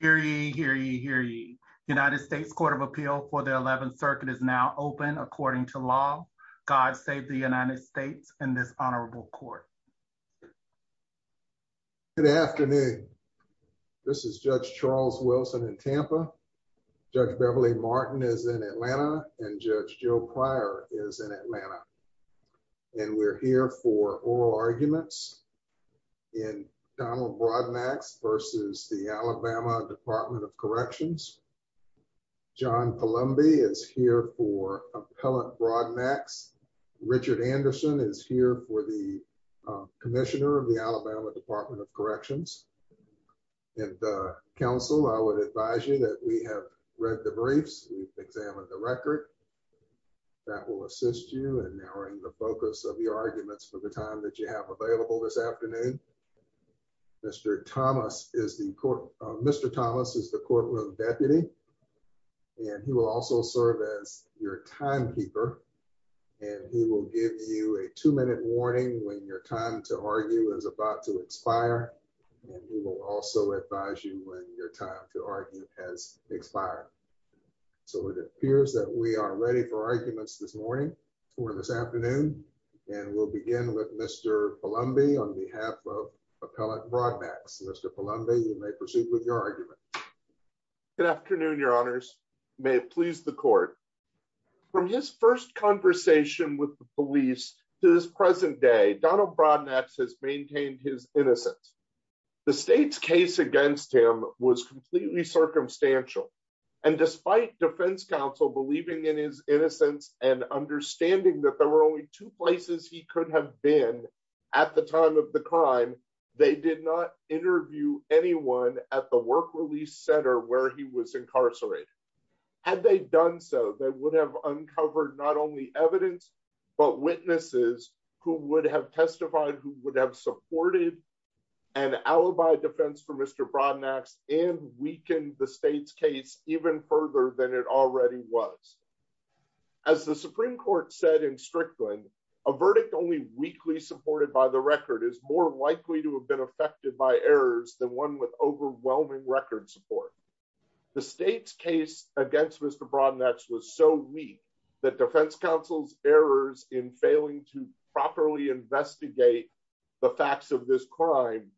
Hear ye, hear ye, hear ye. The United States Court of Appeal for the 11th Circuit is now open according to law. God save the United States and this honorable court. Good afternoon. This is Judge Charles Wilson in Tampa. Judge Beverly Martin is in Atlanta and Judge Joe Pryor is in Atlanta and we're here for oral arguments in Donald Broadnax versus the Alabama Department of Corrections. John Palumbi is here for Appellant Broadnax. Richard Anderson is here for the Commissioner of the Alabama Department of Corrections. And counsel, I would advise you that we have read the briefs, we've examined the record. That will assist you in narrowing the focus of your arguments for the time that you have available this afternoon. Mr. Thomas is the courtroom, Mr. Thomas is the courtroom deputy. And he will also serve as your timekeeper. And he will give you a two minute warning when your time to argue is about to expire. And we will also advise you when your time to argue has expired. So it appears that we are ready for arguments this morning, or this afternoon. And we'll begin with Mr. Palumbi on behalf of Appellant Broadnax. Mr. Palumbi, you may proceed with your argument. Good afternoon, Your Honors, may it please the court. From his first conversation with the police to this present day, Donald Broadnax has maintained his innocence. The state's case against him was completely circumstantial. And despite defense counsel believing in his innocence and understanding that there were only two places he could have been at the time of the crime, they did not interview anyone at the work release center where he was incarcerated. Had they done so they would have uncovered not only evidence, but witnesses who would have testified who would have supported an alibi defense for Mr. Broadnax and weakened the state's case even further than it already was. As the Supreme Court said in Strickland, a verdict only weakly supported by the record is more likely to have been affected by errors than one with overwhelming record support. The state's case against Mr. Broadnax was so weak that defense counsel's errors in failing to properly investigate the facts of this crime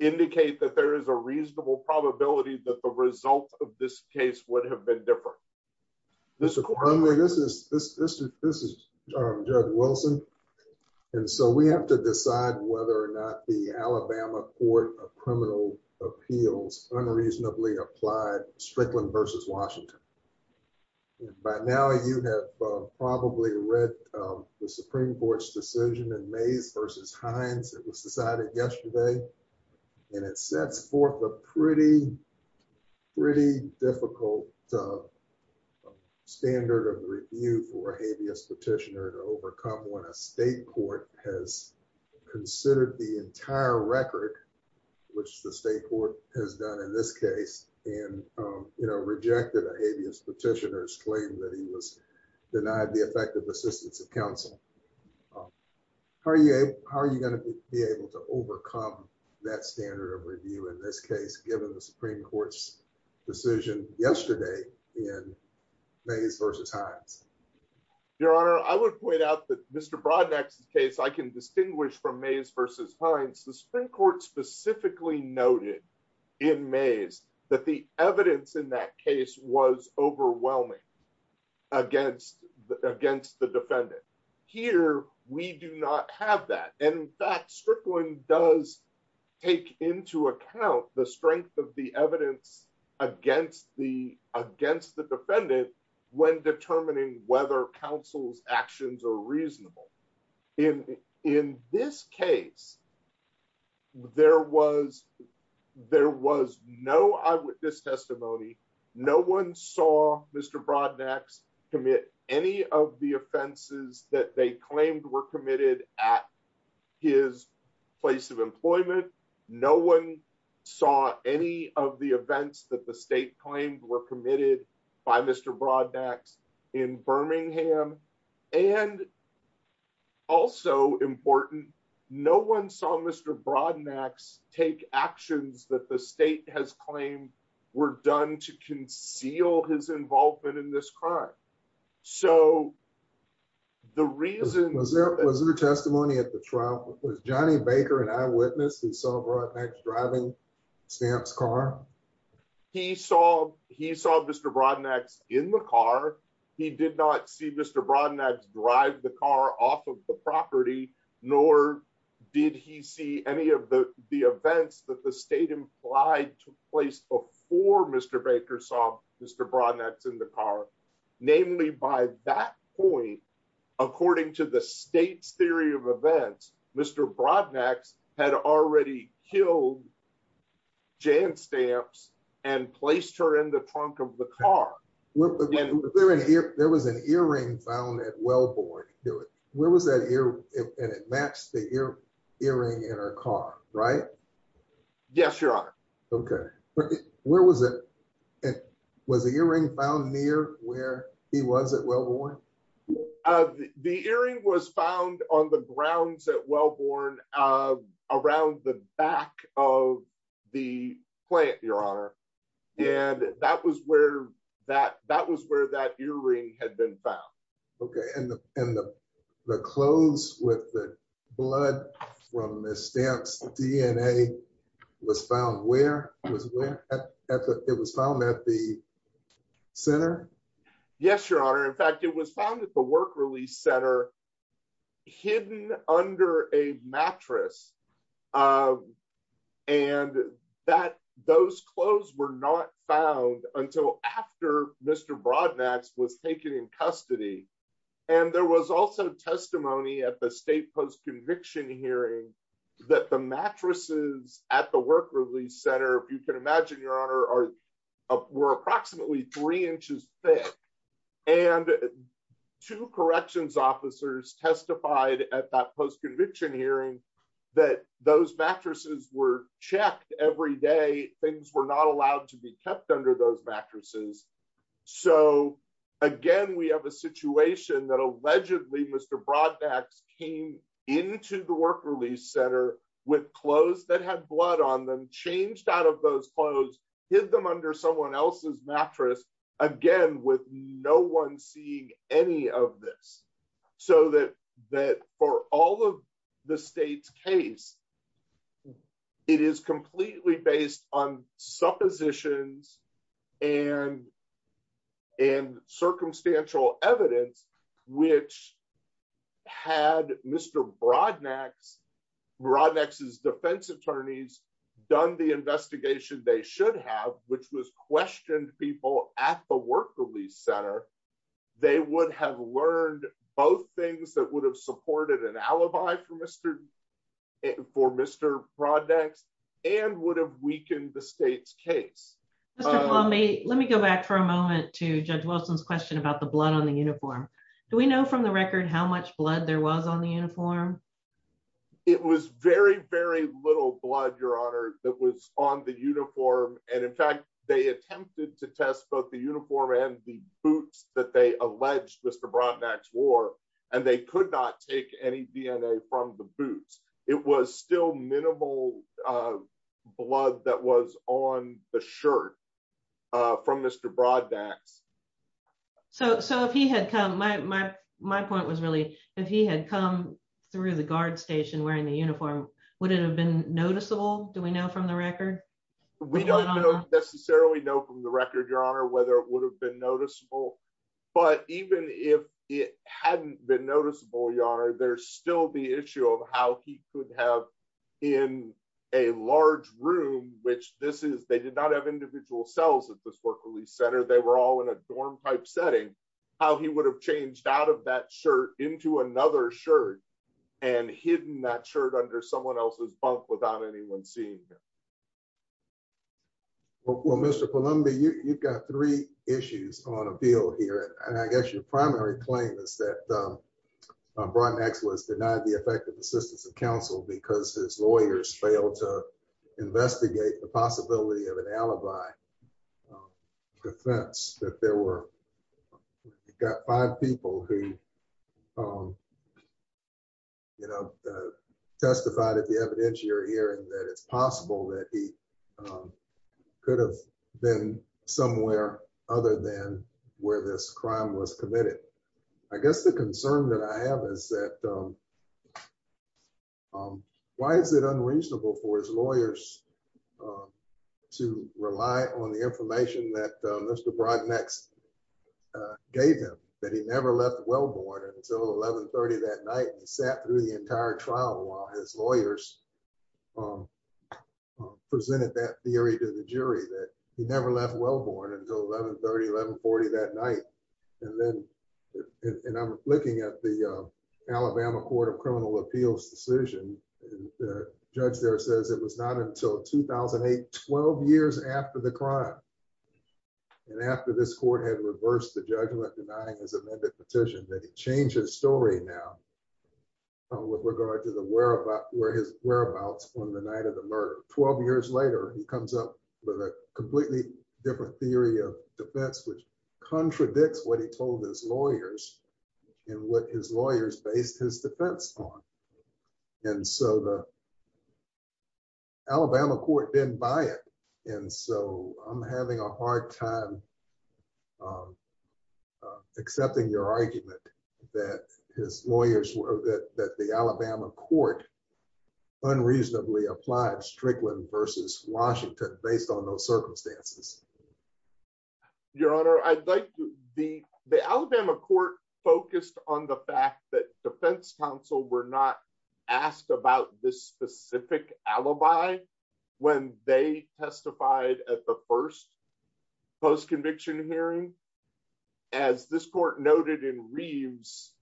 indicate that there is a reasonable probability that the result of this case would have been different. This is this is this is this is Judge Wilson. And so we have to decide whether or not the Alabama Court of Criminal Appeals unreasonably applied Strickland versus Washington. By now, you have probably read the Supreme Court's decision in May's versus Heinz. It was decided yesterday, and it sets forth a pretty, pretty difficult standard of review for a habeas petitioner to overcome when a state court has considered the entire record, which the state court has done in this petitioner's claim that he was denied the effective assistance of counsel. How are you? How are you going to be able to overcome that standard of review in this case, given the Supreme Court's decision yesterday in May's versus Heinz? Your Honor, I would point out that Mr Broadnax's case I can distinguish from May's versus Heinz. The Supreme Court specifically noted in May's that the evidence in that case was overwhelming against against the defendant. Here, we do not have that. And that Strickland does take into account the strength of the evidence against the against the defendant when determining whether counsel's actions are reasonable. In in this case, there was there was no eyewitness testimony. No one saw Mr Broadnax commit any of the offenses that they claimed were committed at his place of employment. No one saw any of the events that the state claimed were committed by Mr Broadnax in Birmingham. And also important, no one saw Mr Broadnax take actions that the state has claimed were done to conceal his involvement in this crime. So the reason was there was no testimony at the trial was Johnny Baker and eyewitness who saw broadnecks driving stamps car. He saw he saw Mr Broadnax in the car. He did not see Mr. Broadnax drive the car off of the property, nor did he see any of the the events that the state implied took place before Mr. Baker saw Mr. Broadnax in the car. Namely, by that point, according to the state's theory of events, Mr. Broadnax had already killed Jan stamps and placed her in the trunk of the car. There was an earring found at Wellborn. Where was that ear? And it matched the ear earring in her car, right? Yes, Your Honor. Okay. Where was it? It was a earring found near where he was at Wellborn. The earring was found on the grounds at Wellborn, around the back of the plant, Your Honor. And that was where that that was where that earring had been found. Okay. And and the clothes with the blood from the stamps DNA was found where it was found at the center. Yes, Your Honor. In fact, it was found at the clothes were not found until after Mr. Broadnax was taken in custody. And there was also testimony at the state post conviction hearing that the mattresses at the work release center, if you can imagine, Your Honor are were approximately three inches thick. And two corrections officers testified at that post conviction hearing that those mattresses were checked every day. Things were not allowed to be kept under those mattresses. So again, we have a situation that allegedly Mr. Broadnax came into the work release center with clothes that had blood on them changed out of those clothes, hid them under someone else's mattress, again, with no one seeing any of this, so that that for all of the state's case, it is completely based on suppositions and, and circumstantial evidence, which had Mr. Broadnax, Broadnax's defense attorneys done the investigation they should have, which was questioned people at the work release center, they would have learned both things that would have supported an alibi for Mr. For Mr. Broadnax, and would have weakened the state's case. Mr. Paul, may let me go back for a moment to judge Wilson's question about the blood on the uniform. Do we know from the record how much blood there was on the uniform? It was very, very little blood, Your Honor, that was on the uniform. And in fact, they attempted to test both the uniform and the boots that they alleged Mr. Broadnax wore, and they could not take any DNA from the boots. It was still minimal blood that was on the shirt from Mr. Broadnax. So so if he had come my my, my point was really, if he had come through the guard station wearing the uniform, would it have been noticeable? Do we know from the record? We don't necessarily know from the record, Your Honor, whether it would have been noticeable. But even if it hadn't been noticeable, Your Honor, there's still the issue of how he could have in a large room, which this is, they did not have individual cells at this work release center, they were all in a dorm type setting, how he would have changed out of that shirt into another shirt, and hidden that shirt under someone else's bunk without anyone seeing him. Well, Mr. Columbia, you've got three issues on appeal here. And I guess your primary claim is that Broadnax was denied the effective assistance of counsel because his lawyers failed to investigate the possibility of an alibi defense that there were got five people who you know, testified at the evidence you're hearing that it's possible that he could have been somewhere other than where this crime was committed. I guess the concern that I have is that why is it unreasonable for his lawyers to rely on the information that Mr. Broadnax gave him, that he never left Wellborn until 1130 that night and sat through the entire trial while his lawyers presented that theory to the jury that he never left Wellborn until 1130, 1140 that night. And then, and I'm looking at the Alabama Court of Criminal Appeals decision, the judge there says it was not until 2008, 12 years after the crime. And after this court had reversed the judgment denying his amended petition that he changed his story now, with regard to the whereabouts on the night of the murder. 12 years later, he comes up with a completely different theory of defense, which contradicts what he told his lawyers, and what his lawyers based his defense on. And so the having a hard time accepting your argument that his lawyers were that the Alabama Court unreasonably applied Strickland versus Washington based on those circumstances. Your Honor, I'd like to be the Alabama Court focused on the fact that Defense Counsel were not asked about this specific alibi. When they testified at the first post conviction hearing, as this court noted in Reeves,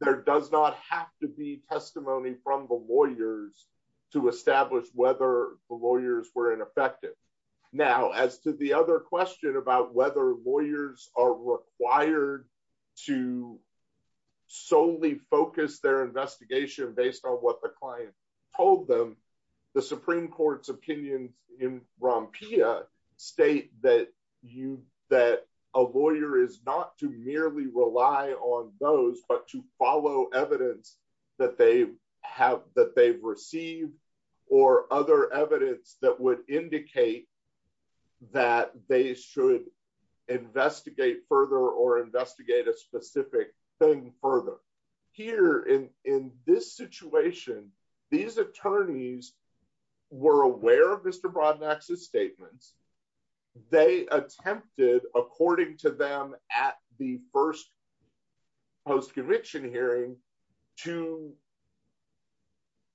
there does not have to be testimony from the lawyers to establish whether the lawyers were ineffective. Now, as to the other question about whether lawyers are required to solely focus their investigation based on what the client told them, the Supreme Court's opinions in Rompia state that you that a lawyer is not to merely rely on those but to follow evidence that they have that they've received, or other evidence that would indicate that they should investigate further or thing further. Here in in this situation, these attorneys were aware of Mr. Broadnax's statements. They attempted according to them at the first post conviction hearing to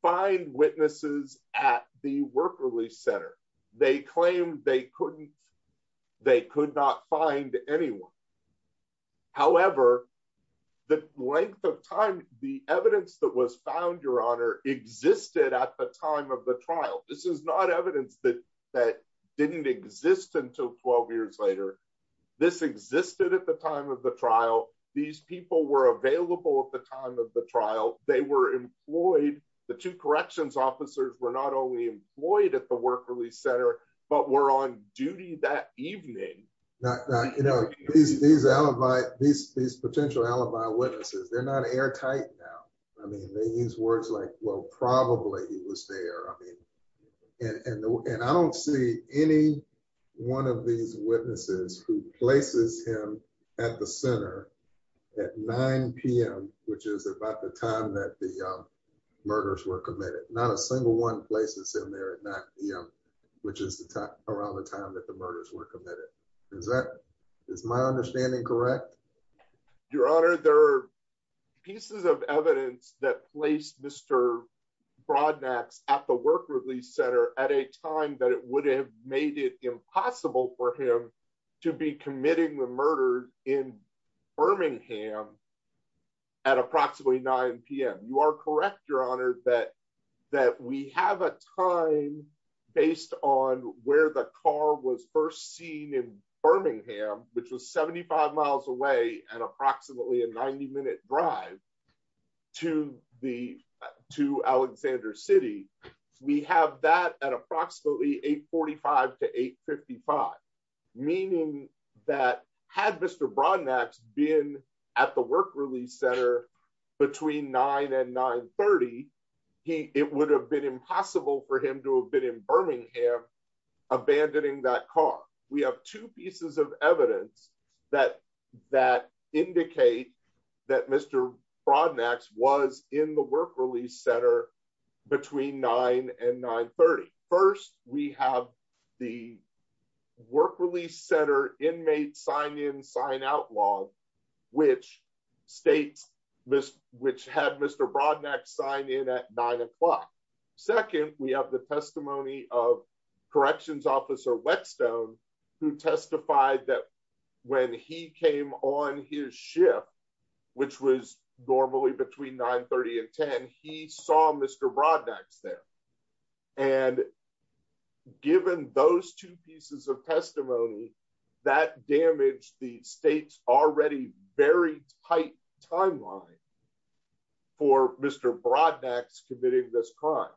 find witnesses at the work release center, they claimed they couldn't, they could not find anyone. However, the length of time the evidence that was found, Your Honor existed at the time of the trial. This is not evidence that that didn't exist until 12 years later. This existed at the time of the trial. These people were available at the time of the trial, they were employed, the two corrections officers were not only employed at the work release center, but were on duty that evening. Now, you know, these these alibi, these these potential alibi witnesses, they're not airtight now. I mean, they use words like, well, probably he was there. I mean, and I don't see any one of these witnesses who places him at the center at 9pm, which is about the time that the murders were committed, not a single one places in there at 9pm, which is the time around the time that the murders were committed. Is that is my understanding correct? Your Honor, there are pieces of evidence that placed Mr Broadnax at the work release center at a time that it would have made it impossible for him to be committing the murder in Birmingham at approximately 9pm. You are correct, Your Honor, that that we have a time based on where the car was first seen in Birmingham, which was 75 miles away and approximately a 90 minute drive to the to Alexander City. We have that at approximately 845 to 855. Meaning that had Mr. Broadnax been at the work release center between nine and 930. He it would have been impossible for him to have been in Birmingham, abandoning that car. We have two pieces of evidence that that indicate that Mr. Broadnax was in the work release center between nine and 930. First, we have the work release center inmate sign in sign out law, which states this which had Mr. Broadnax sign in at nine o'clock. Second, we have the testimony of corrections officer Wexton, who testified that when he came on his shift, which was normally between 930 and 10, he saw Mr. Broadnax there. And given those two pieces of testimony, that damaged the state's already very tight timeline for Mr. Broadnax committing this crime.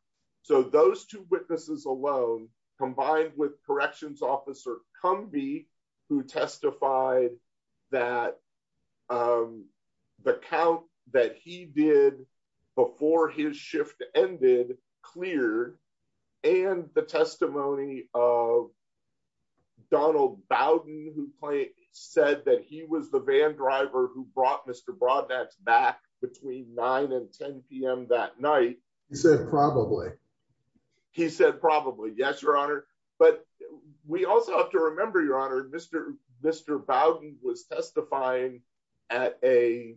So those two witnesses alone, combined with corrections officer come be who testified that the count that he did before his shift ended clear and the testimony of Donald Bowden, who said that he was the van driver who brought Mr. Broadnax back between nine and 10 p.m. That night, he said, probably, he said, probably, yes, Your Honor. But we also have to remember, Your Honor, Mr. Mr. Bowden was testifying at a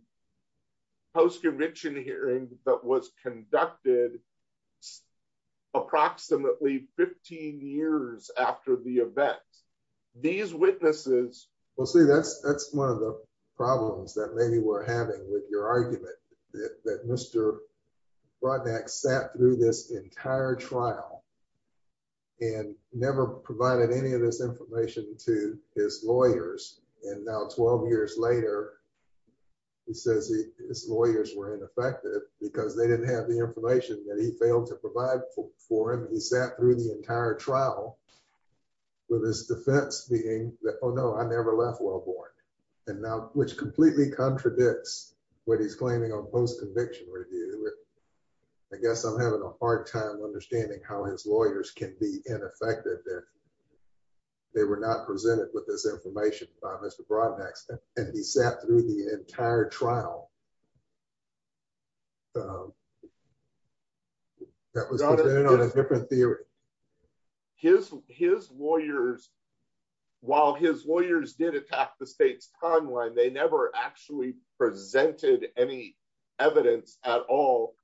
post that was conducted approximately 15 years after the event. These witnesses will say that's, that's one of the problems that maybe we're having with your argument that Mr. Broadnax sat through this entire trial, and never provided any of this information to his lawyers. And now 12 years later, he says his lawyers were ineffective because they didn't have the information that he failed to provide for him. He sat through the entire trial with his defense being that, Oh, no, I never left well born. And now, which completely contradicts what he's claiming on post conviction review. I guess I'm having a hard time understanding how his lawyers can be ineffective if they were not presented with this information by Mr. Broadnax. And he sat through the entire trial. That was a different theory. His his lawyers, while his lawyers did attack the state's timeline, they never actually presented any evidence at all.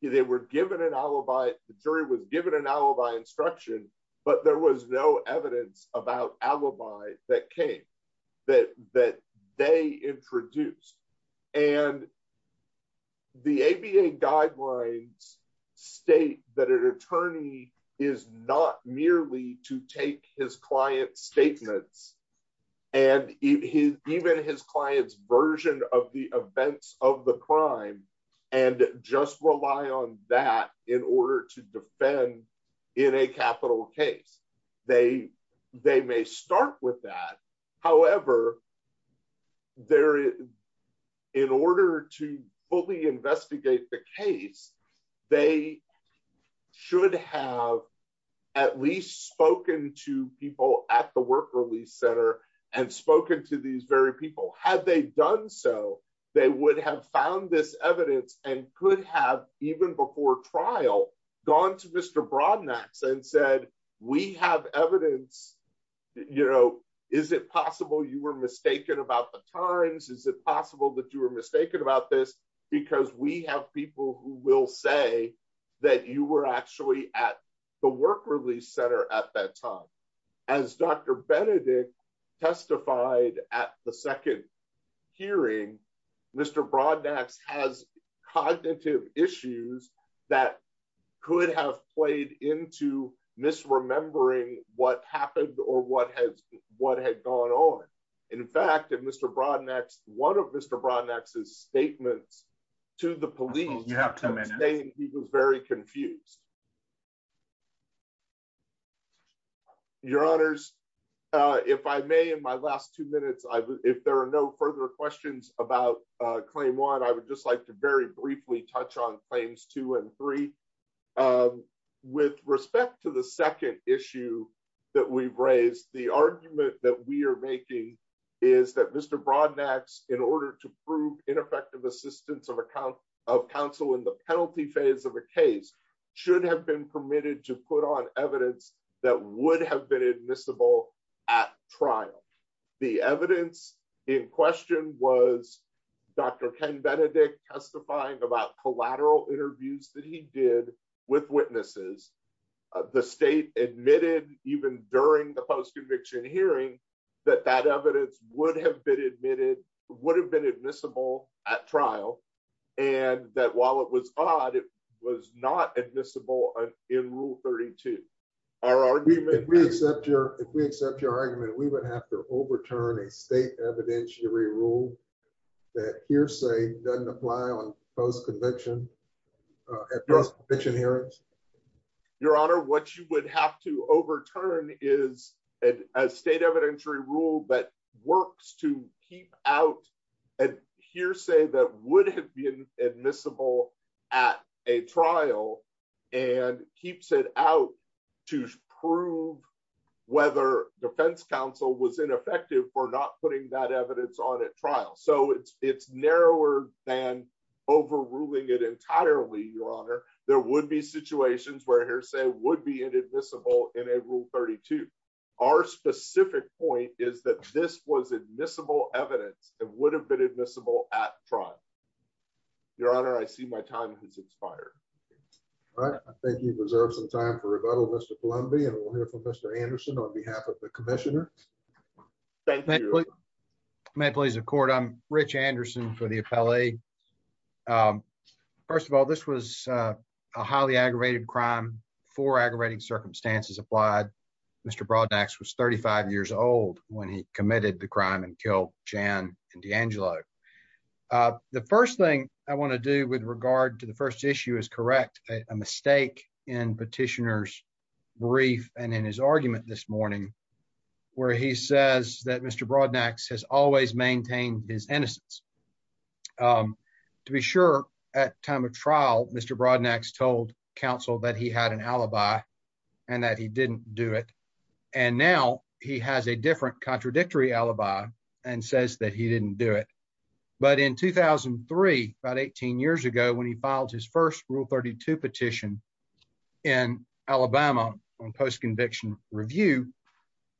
They were given an alibi, the jury was given an alibi instruction, but there was no evidence about alibi that came that that they introduced. And the ABA guidelines state that an attorney is not merely to take his client's statements, and he even his clients version of the events of the crime, and just rely on that in order to defend in a capital case. They, they may start with that. However, there in order to fully investigate the case, they should have at least spoken to people at the work release center and spoken to these very people had they done so they would have found this evidence and could have even before trial gone to Mr. Broadnax and said, we have evidence. You know, is it possible you were mistaken about the times? Is it possible that you were mistaken about this? Because we have people who will say that you were actually at the work release center at that time. As Dr. Benedict testified at the second hearing, Mr. Broadnax has cognitive issues that could have played into misremembering what happened or what has what had gone on. In fact, if Mr. Broadnax, one of Mr. Broadnax's statements to the police, you have to say he was very confused. Your honors, if I may, in my last two minutes, I if there are no further questions about claim one, I would just like to very briefly touch on claims two and three. With respect to the second issue that we've raised, the argument that we are making is that Mr. Broadnax in order to prove ineffective assistance of account of counsel in the penalty phase of a case should have been permitted to put on evidence that would have been admissible at trial. The evidence in question was Dr. Ken Benedict testifying about collateral interviews that he did with witnesses. The state admitted even during the post conviction hearing, that that evidence would have been admitted would have been admissible at trial. And that while it was odd, it was not admissible in rule 32. Our argument we accept your if we accept your argument, we would have to overturn a state evidentiary rule that hearsay doesn't apply on post conviction. Your honor, what you would have to overturn is a state evidentiary rule that works to keep out a hearsay that would have been admissible at a trial, and keeps it out to prove whether defense counsel was ineffective for not putting that evidence on at trial. So it's narrower than overruling it entirely, your honor, there would be situations where hearsay would be admissible in a rule 32. Our specific point is that this was admissible evidence that would have been admissible at trial. Your honor, I see my time has expired. All right, I think you've reserved some time for rebuttal, Mr. Columbia, and we'll hear from Mr. Anderson on behalf of the Commissioner. Thank you. My pleas of court, I'm rich Anderson for the appellee. First of all, this was a highly aggravated crime for aggravating circumstances applied. Mr. Broadnax was 35 years old when he committed the crime and killed Jan and D'Angelo. The first thing I want to do with regard to the first issue is correct a mistake in petitioners brief and in his argument this morning, where he says that Mr. Broadnax has always maintained his innocence. To be sure, at time of trial, Mr. Broadnax told counsel that he had an alibi, and that he didn't do it. And now he has a different contradictory alibi, and says that he didn't do it. But in 2003, about 18 years ago, when he filed his first rule 32 petition in Alabama, on post conviction review,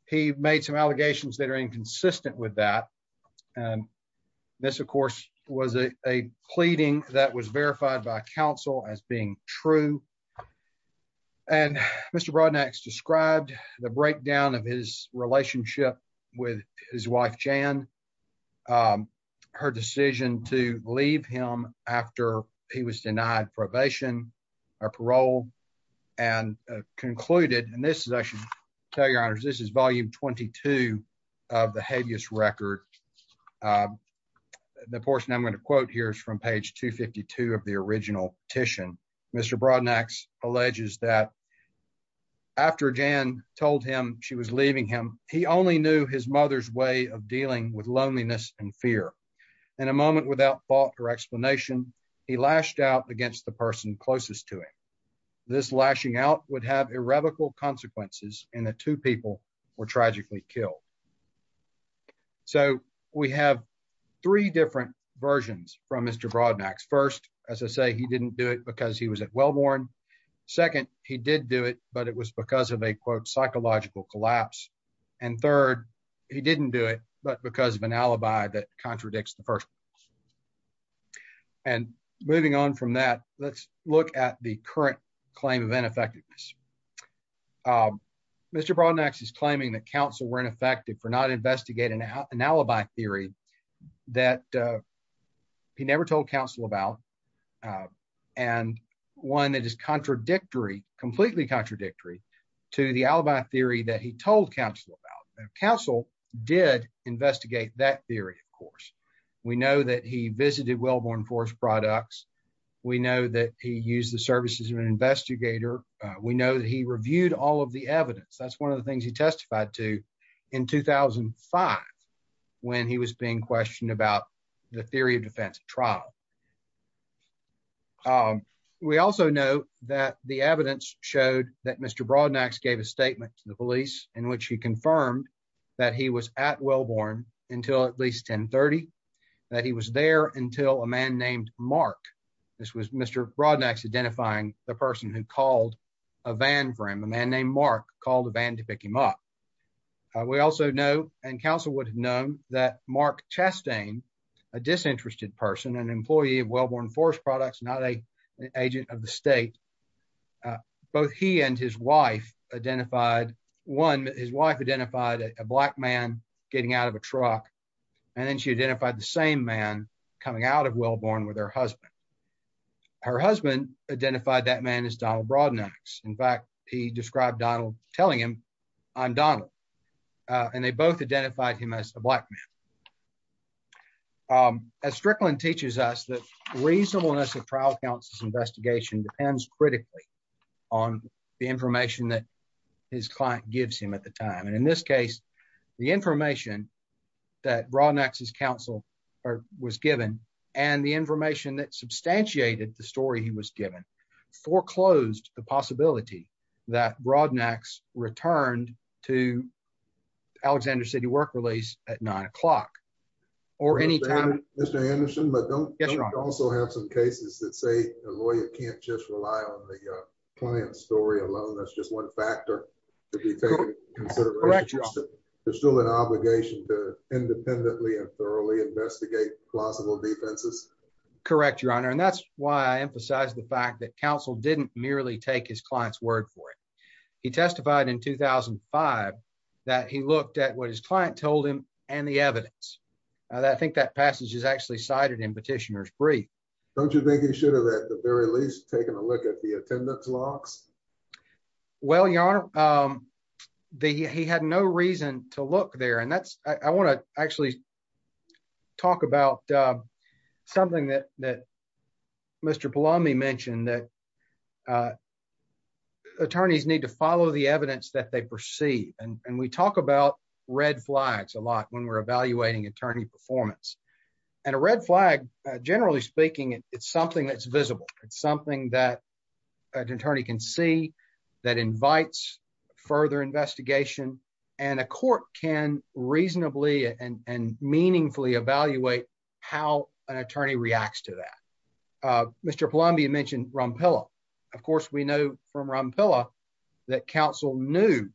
he this, of course, was a pleading that was verified by counsel as being true. And Mr. Broadnax described the breakdown of his relationship with his wife, Jan. Her decision to leave him after he was denied probation, or parole, and concluded and this is actually tell your honors, this is volume 22 of the portion I'm going to quote here is from page 252 of the original petition. Mr. Broadnax alleges that after Jan told him she was leaving him, he only knew his mother's way of dealing with loneliness and fear. In a moment without thought or explanation, he lashed out against the person closest to him. This lashing out would have irrevocable consequences and the two people were tragically killed. So we have three different versions from Mr. Broadnax. First, as I say, he didn't do it because he was at Wellborn. Second, he did do it, but it was because of a quote, psychological collapse. And third, he didn't do it, but because of an alibi that contradicts the first. And moving on from that, let's look at the current claim of ineffectiveness. Mr. Broadnax is claiming that counsel were ineffective for not investigating an alibi theory that he never told counsel about. And one that is contradictory, completely contradictory to the alibi theory that he told counsel about. Counsel did investigate that theory, of course. We know that he visited Wellborn Forest Products. We know that he used the services of an investigator. We know that he reviewed all of the evidence. That's one of the things he testified to in 2005, when he was being questioned about the theory of defense trial. We also know that the evidence showed that Mr. Broadnax gave a statement to the police in which he confirmed that he was at Wellborn until at least 1030, that he was there until a man named Mark. This was Mr. Broadnax identifying the person who called a van for him. A man named Mark called a van to pick him up. We also know, and counsel would have known, that Mark Chastain, a disinterested person, an employee of Wellborn Forest Products, not an agent of the state, both he and his wife identified, one, his wife identified a black man getting out of a truck. And then she identified the same man coming out of Wellborn with her husband. Her husband, Donald Broadnax. In fact, he described Donald telling him, I'm Donald. And they both identified him as a black man. As Strickland teaches us that reasonableness of trial counsel's investigation depends critically on the information that his client gives him at the time. And in this case, the information that Broadnax's counsel was given, and the possibility that Broadnax returned to Alexander City work release at nine o'clock or any time. Mr. Anderson, but don't also have some cases that say a lawyer can't just rely on the client story alone. That's just one factor to be considered. There's still an obligation to independently and thoroughly investigate plausible defenses. Correct, Your Honor. And that's why I emphasize the fact that counsel didn't merely take his client's word for it. He testified in 2005, that he looked at what his client told him and the evidence that I think that passage is actually cited in petitioners brief. Don't you think he should have at the very least taken a look at the attendance logs? Well, your honor, the he had no reason to look there. And that's I want to actually talk about something that that Mr. Palami mentioned that attorneys need to follow the evidence that they perceive. And we talk about red flags a lot when we're evaluating attorney performance. And a red flag, generally speaking, it's something that's visible. It's something that an attorney can see, that invites further investigation, and a court can reasonably and meaningfully evaluate how an attorney reacts to that. Mr. Columbia mentioned Rumpel. Of course, we know from Rumpel, that counsel knew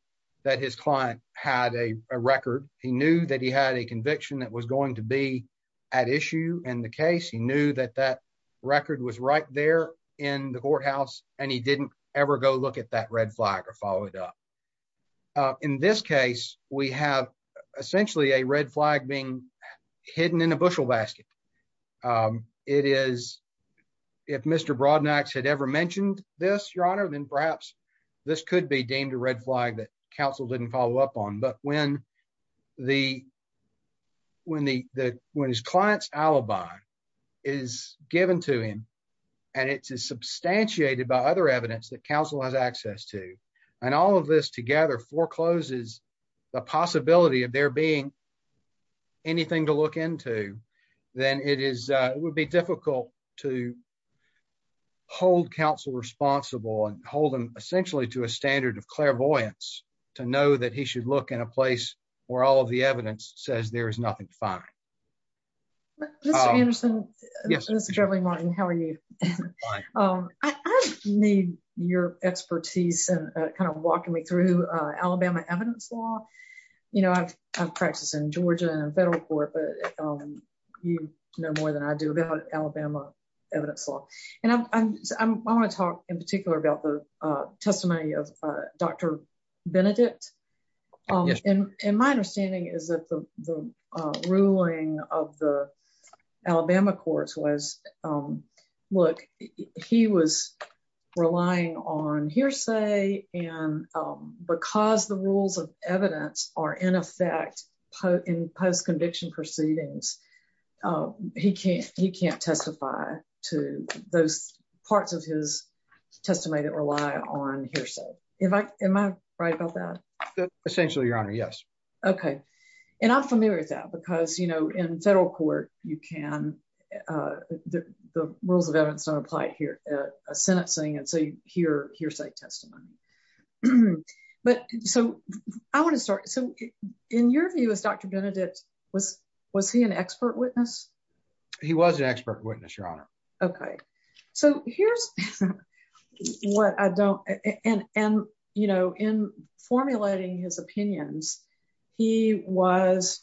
that his client had a record, he knew that he had a conviction that was going to be at issue and the case, he knew that that record was right there in the courthouse, and he didn't ever go look at that red flag or follow it up. In this case, we have essentially a red flag being hidden in a bushel basket. It is, if Mr. Broadnax had ever mentioned this, your honor, then perhaps this could be deemed a red flag that counsel didn't follow up on. But when the when the when his clients alibi is given to him, and it's substantiated by other evidence that counsel has access to, and all of this together forecloses the possibility of there being anything to look into, then it is, it would be difficult to hold counsel responsible and hold them essentially to a standard of clairvoyance, to know that he should look in a place where all of the evidence says there is nothing to find. Mr. Anderson, Mr. Gervley-Martin, how are you? I need your expertise and kind of walking me through Alabama evidence law. You know, I've practiced in Georgia and federal court, but you know more than I do about Alabama evidence law. And I want to talk in particular about the testimony of Dr. Benedict. And my understanding is that the ruling of the Alabama courts was, look, he was relying on hearsay. And because the rules of evidence are in effect, in post conviction proceedings, he can't, he can't testify to those parts of his testimony that rely on hearsay. Am I right about that? Essentially, Your Honor, yes. Okay. And I'm familiar with that. Because, you know, in federal court, you can, the rules of evidence don't apply here, a sentencing and say hearsay testimony. But so I want to start. So in your view, as Dr. Benedict, was, was he an expert witness? He was an expert witness, Your Honor. Okay. So here's what I don't and, you know, in formulating his opinions, he was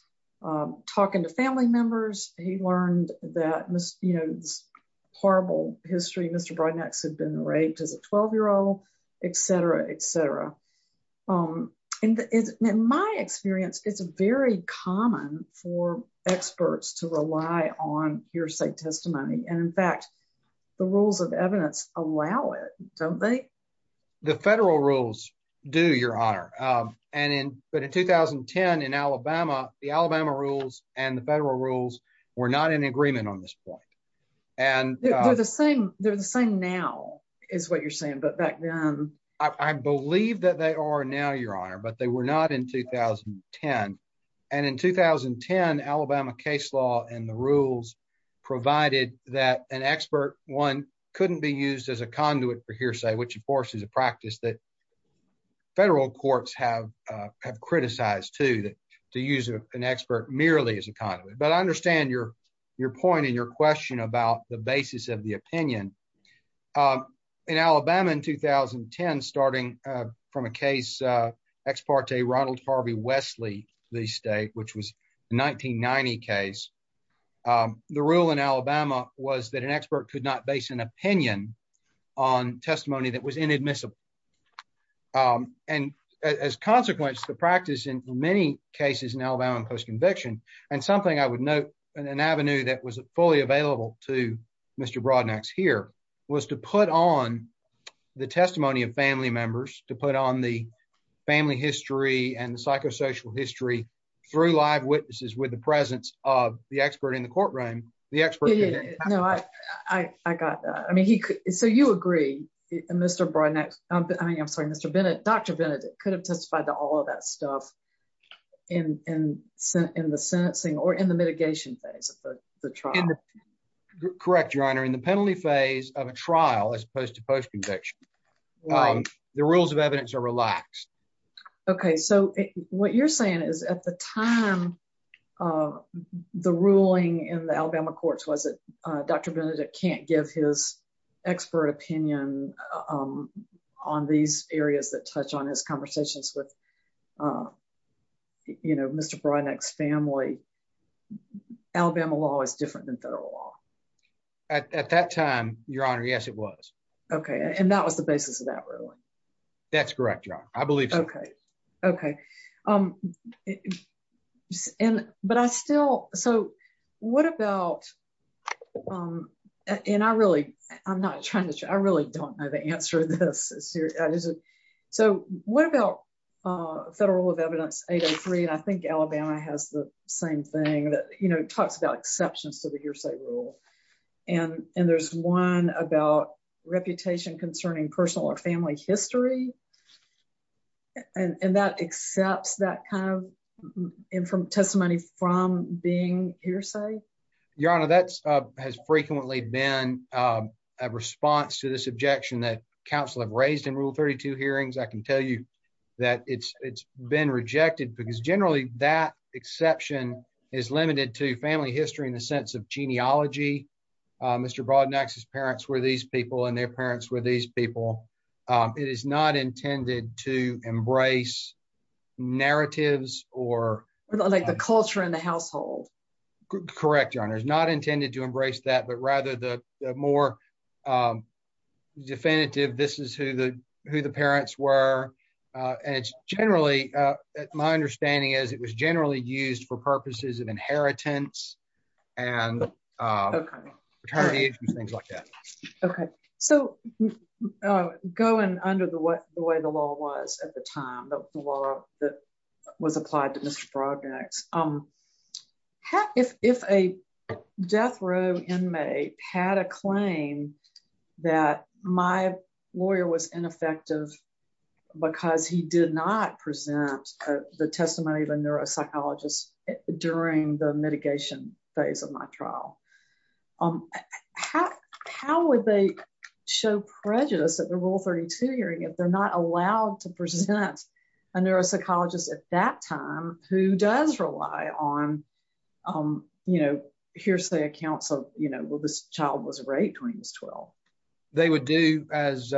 talking to family members, he learned that, you know, horrible history, Mr. Broadnax had been raped as a 12 year old, etc, etc. And in my experience, it's very common for experts to rely on hearsay testimony. And in fact, the rules of evidence allow it, don't they? The federal rules do, Your Honor. And in, but in 2010, in Alabama, the Alabama rules, and the federal rules, were not in agreement on this point. And they're the same. They're the same now, is what you're saying. But back then, I believe that they are now, Your Honor, but they were not in 2010. And in 2010, Alabama case law and the rules provided that an expert one couldn't be used as a force as a practice that federal courts have, have criticized to that, to use an expert merely as a conduit. But I understand your, your point and your question about the basis of the opinion. In Alabama in 2010, starting from a case, ex parte Ronald Harvey Wesley, the state which was 1990 case, the rule in Alabama was that an expert could not base an opinion on testimony that was inadmissible. And as consequence, the practice in many cases in Alabama post conviction, and something I would note, an avenue that was fully available to Mr. Broadnax here was to put on the testimony of family members to put on the family history and psychosocial history, through live witnesses with the presence of the expert in the courtroom, the expert. No, I got that. I mean, he could. So you agree, Mr. Broadnax. I mean, I'm sorry, Mr. Bennett, Dr. Bennett could have testified to all of that stuff. And sent in the sentencing or in the mitigation phase of the trial. Correct, Your Honor, in the penalty phase of a trial, as opposed to post conviction. The rules of evidence are relaxed. Okay, so what you're saying is at the time, the ruling in the Alabama courts, was it, Dr. Bennett can't give his expert opinion on these areas that touch on his conversations with, you know, Mr. Broadnax family. Alabama law is different than federal law. At that time, Your Honor, yes, it was. Okay. And that was the basis of that ruling. That's correct, Your Honor, I believe. Okay. Okay. But I still, so what about, and I really, I'm not trying to, I really don't know the answer to this. So what about federal rule of evidence 803? And I think Alabama has the same thing that, you know, talks about exceptions to the hearsay rule. And, and there's one about reputation concerning personal or family history. And that accepts that kind of informed testimony from being hearsay. Your Honor, that has frequently been a response to this objection that counsel have raised in Rule 32 hearings. I can tell you that it's, it's been rejected because generally that exception is limited to family history in the sense of genealogy. Mr. Broadnax's parents were these people and their parents were these people. It is not intended to embrace narratives or like the culture in the household. Correct, Your Honor, it's not intended to embrace that, but rather the more definitive, this is who the, who the parents were. And it's generally, my attorney, things like that. Okay. So going under the way the law was at the time, the law that was applied to Mr. Broadnax, if a death row inmate had a claim that my lawyer was ineffective, because he did not present the testimony of a family member, how would they show prejudice at the Rule 32 hearing if they're not allowed to present a neuropsychologist at that time who does rely on, you know, hearsay accounts of, you know, well, this child was raped when he was 12? They would do as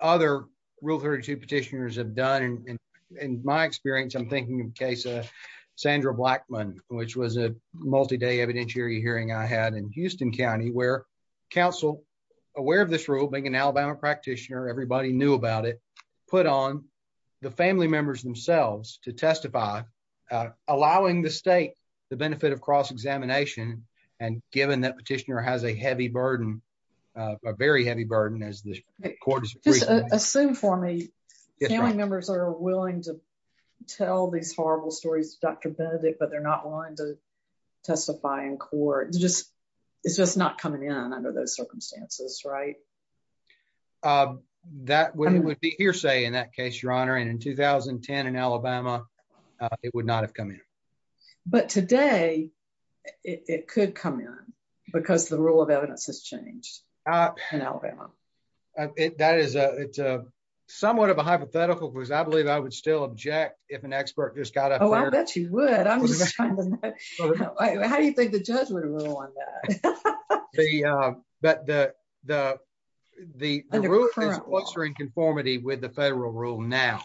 other Rule 32 petitioners have done. And in my experience, I'm thinking of the case of Sandra Blackmon, which was a multi-day evidentiary hearing I had in Houston County, where counsel, aware of this rule, being an Alabama practitioner, everybody knew about it, put on the family members themselves to testify, allowing the state the benefit of cross-examination. And given that petitioner has a heavy burden, a very heavy burden, as the court has agreed to. Just assume for me, family members are willing to tell these horrible stories of Dr. Benedict, but they're not willing to testify in court. It's just, it's just not coming in under those circumstances, right? That would be hearsay in that case, Your Honor. And in 2010, in Alabama, it would not have come in. But today, it could come in, because the rule of evidence has changed in Alabama. It that is a somewhat of a hypothetical, because I believe I would still object if an expert just got up. I bet you would. I'm just trying to know. How do you think the judge would rule on that? But the, the, the rule is closer in conformity with the federal rule now.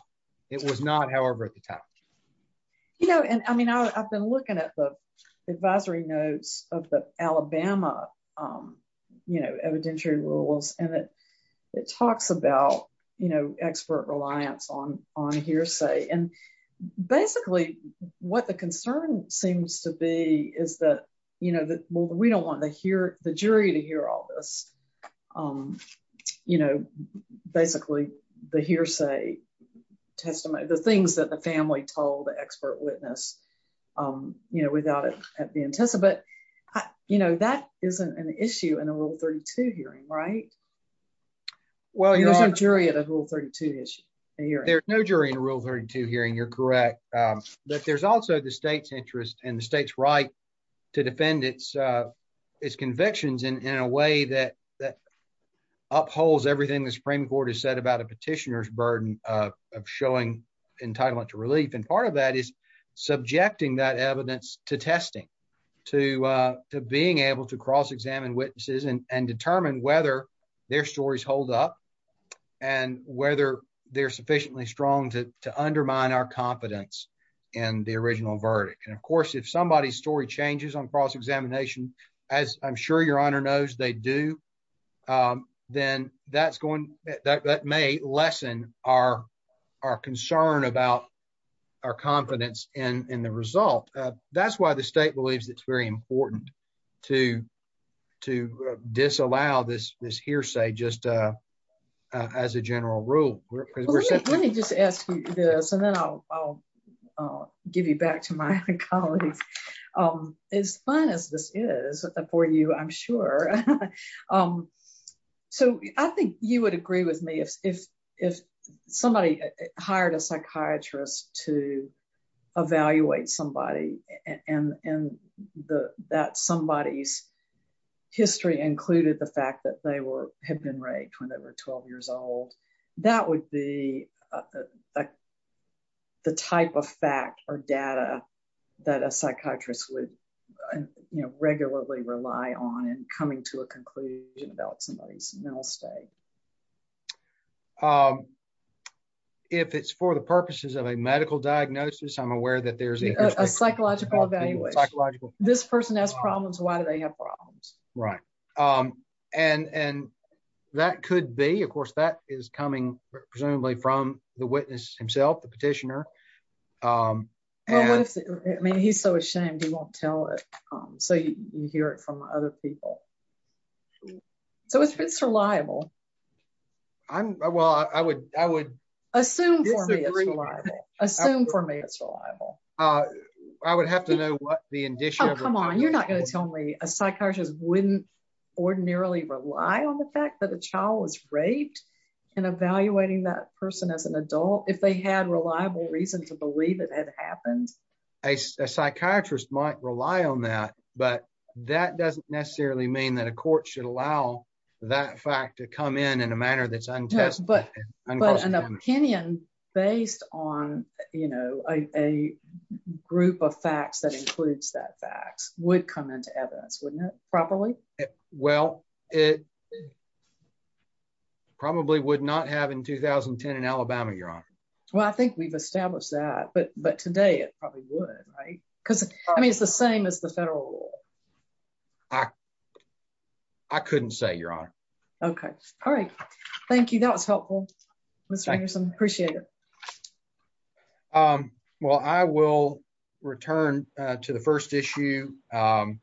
It was not, however, at the time. You know, and I mean, I've been looking at the advisory notes of the Alabama, you know, evidentiary rules, and it, it talks about, you know, expert reliance on, on what the concern seems to be is that, you know, that we don't want to hear the jury to hear all this. You know, basically, the hearsay testimony, the things that the family told the expert witness, you know, without it being tested. But, you know, that isn't an issue in a Rule 32 hearing, right? Well, there's no jury at a Rule 32 hearing. There's no jury in a Rule 32 hearing, you're correct. But there's also the state's interest and the state's right to defend its, its convictions in a way that, that upholds everything the Supreme Court has said about a petitioner's burden of showing entitlement to relief. And part of that is subjecting that evidence to testing, to being able to cross examine witnesses and determine whether their stories hold up, and whether they're sufficiently strong to undermine our confidence in the original verdict. And of course, if somebody's story changes on cross examination, as I'm sure Your Honor knows they do, then that's going, that may lessen our, our concern about our confidence in the result. That's why the state believes it's very important to, to disallow this hearsay just as a general rule. Let me just ask you this, and then I'll give you back to my colleagues. As fun as this is for you, I'm sure. So I think you would agree with me if somebody hired a somebody, and that somebody's history included the fact that they were, had been raped when they were 12 years old. That would be the type of fact or data that a psychiatrist would, you know, regularly rely on in coming to a conclusion about somebody's mental state. If it's for the purposes of a medical diagnosis, I'm aware that there's a psychological evaluation. This person has problems, why do they have problems? Right. And, and that could be, of course, that is coming, presumably from the witness himself, the petitioner. And I mean, he's so ashamed, he won't tell it. So you hear it from other people. So it's reliable. I'm, well, I would, I would assume for me, assume for me, it's reliable. I would have to know what the indicia Oh, come on, you're not going to tell me a psychiatrist wouldn't ordinarily rely on the fact that a child was raped, and evaluating that person as an adult, if they had reliable reason to believe it had happened. A psychiatrist might rely on that, but that doesn't necessarily mean that a court should allow that fact to come in in a manner that's untested. But an opinion based on, you know, a group of facts that includes that fact would come into evidence, wouldn't it? Probably. Well, it probably would not have in 2010, in Alabama, Your Honor. Well, I think we've established that. But, but today it probably would, right? Because I mean, it's the same as the federal law. I, I couldn't say, Your Honor. Okay. All right. Thank you. That was helpful. Mr. Anderson, appreciate it. Um, well, I will return to the first issue. Um,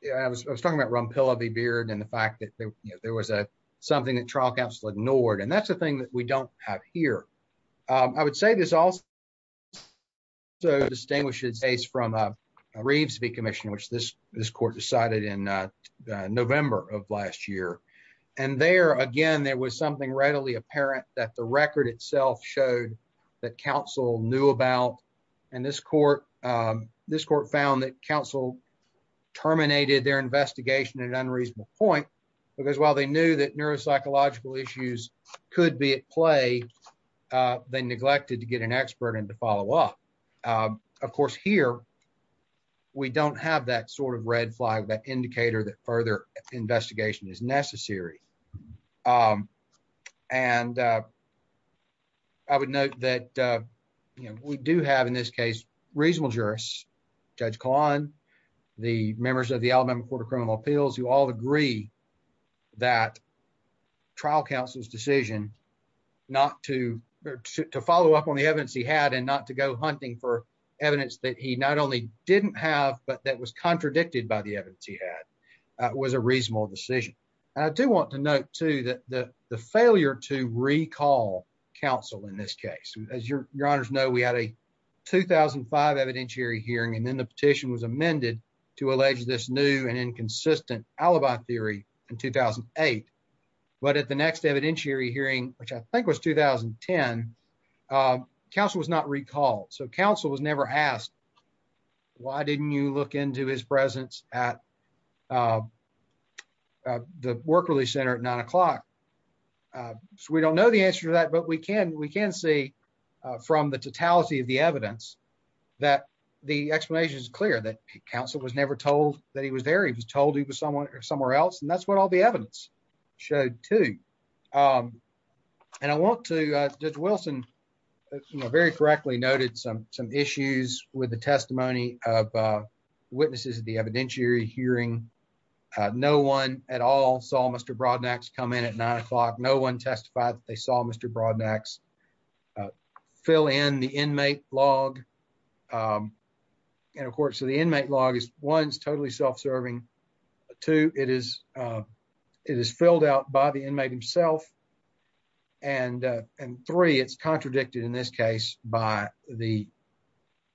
yeah, I was, I was talking about Rumpilla v. Beard and the fact that there was a, something that trial counsel ignored. And that's the thing that we don't have here. Um, I would say this also distinguishes case from a Reeves v. Commission, which this, this court decided in November of last year. And there, again, there was something readily apparent that the record itself showed that counsel knew about. And this court, um, this court found that counsel terminated their investigation at an unreasonable point. Because while they knew that neuropsychological issues could be at a, they neglected to get an expert and to follow up. Um, of course here, we don't have that sort of red flag, that indicator that further investigation is necessary. Um, and, uh, I would note that, uh, you know, we do have in this case, reasonable jurists, Judge Kahlon, the members of the Alabama Court of to follow up on the evidence he had and not to go hunting for evidence that he not only didn't have, but that was contradicted by the evidence he had, uh, was a reasonable decision. I do want to note too, that the failure to recall counsel in this case, as your, your honors know, we had a 2005 evidentiary hearing, and then the petition was amended to allege this new and inconsistent alibi theory in 2008. But at the next evidentiary hearing, which I think was 2010, um, counsel was not recalled. So counsel was never asked, why didn't you look into his presence at, uh, uh, the work release center at nine o'clock? Uh, so we don't know the answer to that, but we can, we can say, uh, from the totality of the evidence that the explanation is clear that counsel was never told that he was there. He was told he was someone or somewhere else. And that's what all the evidence. Showed too. Um, and I want to, uh, judge Wilson, you know, very correctly noted some, some issues with the testimony of, uh, witnesses at the evidentiary hearing. Uh, no one at all saw Mr. Brodnack's come in at nine o'clock. No one testified that they saw Mr. Brodnack's, uh, fill in the inmate log. Um, and of course, the inmate log is one's totally self-serving too. It is, uh, it is filled out by the inmate himself. And, uh, and three it's contradicted in this case by the,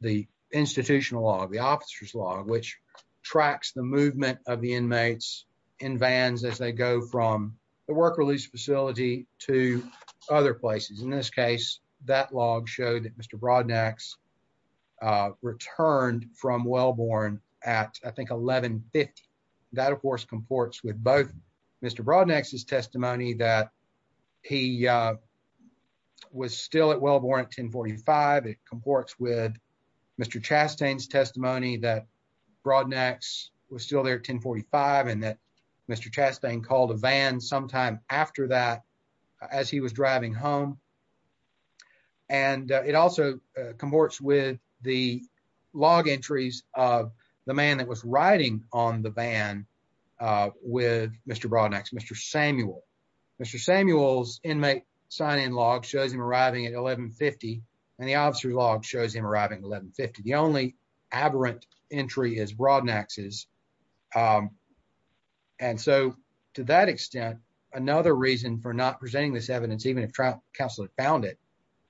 the institutional law, the officer's law, which tracks the movement of the inmates in vans. As they go from the work release facility to other places. In this case, that log showed that Mr. Brodnack's, uh, returned from Wellborn at I think 1150. That of course comports with both Mr. Brodnack's testimony that he, uh, was still at Wellborn at 1045. It comports with Mr. Chastain's testimony that Brodnack's was still there at 1045 and that Mr. Chastain called a van sometime after that as he was driving home. And it also comports with the log entries of the man that was riding on the van, uh, with Mr. Brodnack's, Mr. Samuel, Mr. Samuel's inmate sign in log shows him arriving at 1150 and the officer's log shows him arriving at 1150. The only aberrant entry is Brodnack's. Um, and so to that extent, another reason for not presenting this evidence, even if counsel had found it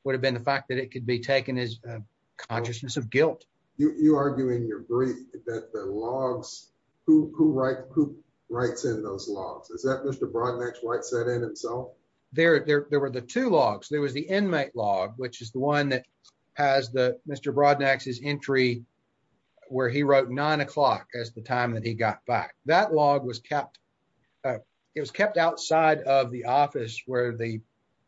would have been the fact that it could be taken as a consciousness of guilt. You, you argue in your brief that the logs, who, who writes, who writes in those logs, is that Mr. Brodnack's writes that in itself? There, there, there were the two logs. There was the inmate log, which is the one that has the Mr. Brodnack's entry where he wrote nine o'clock as the time that he got back. That log was kept, uh, it was kept outside of the office where the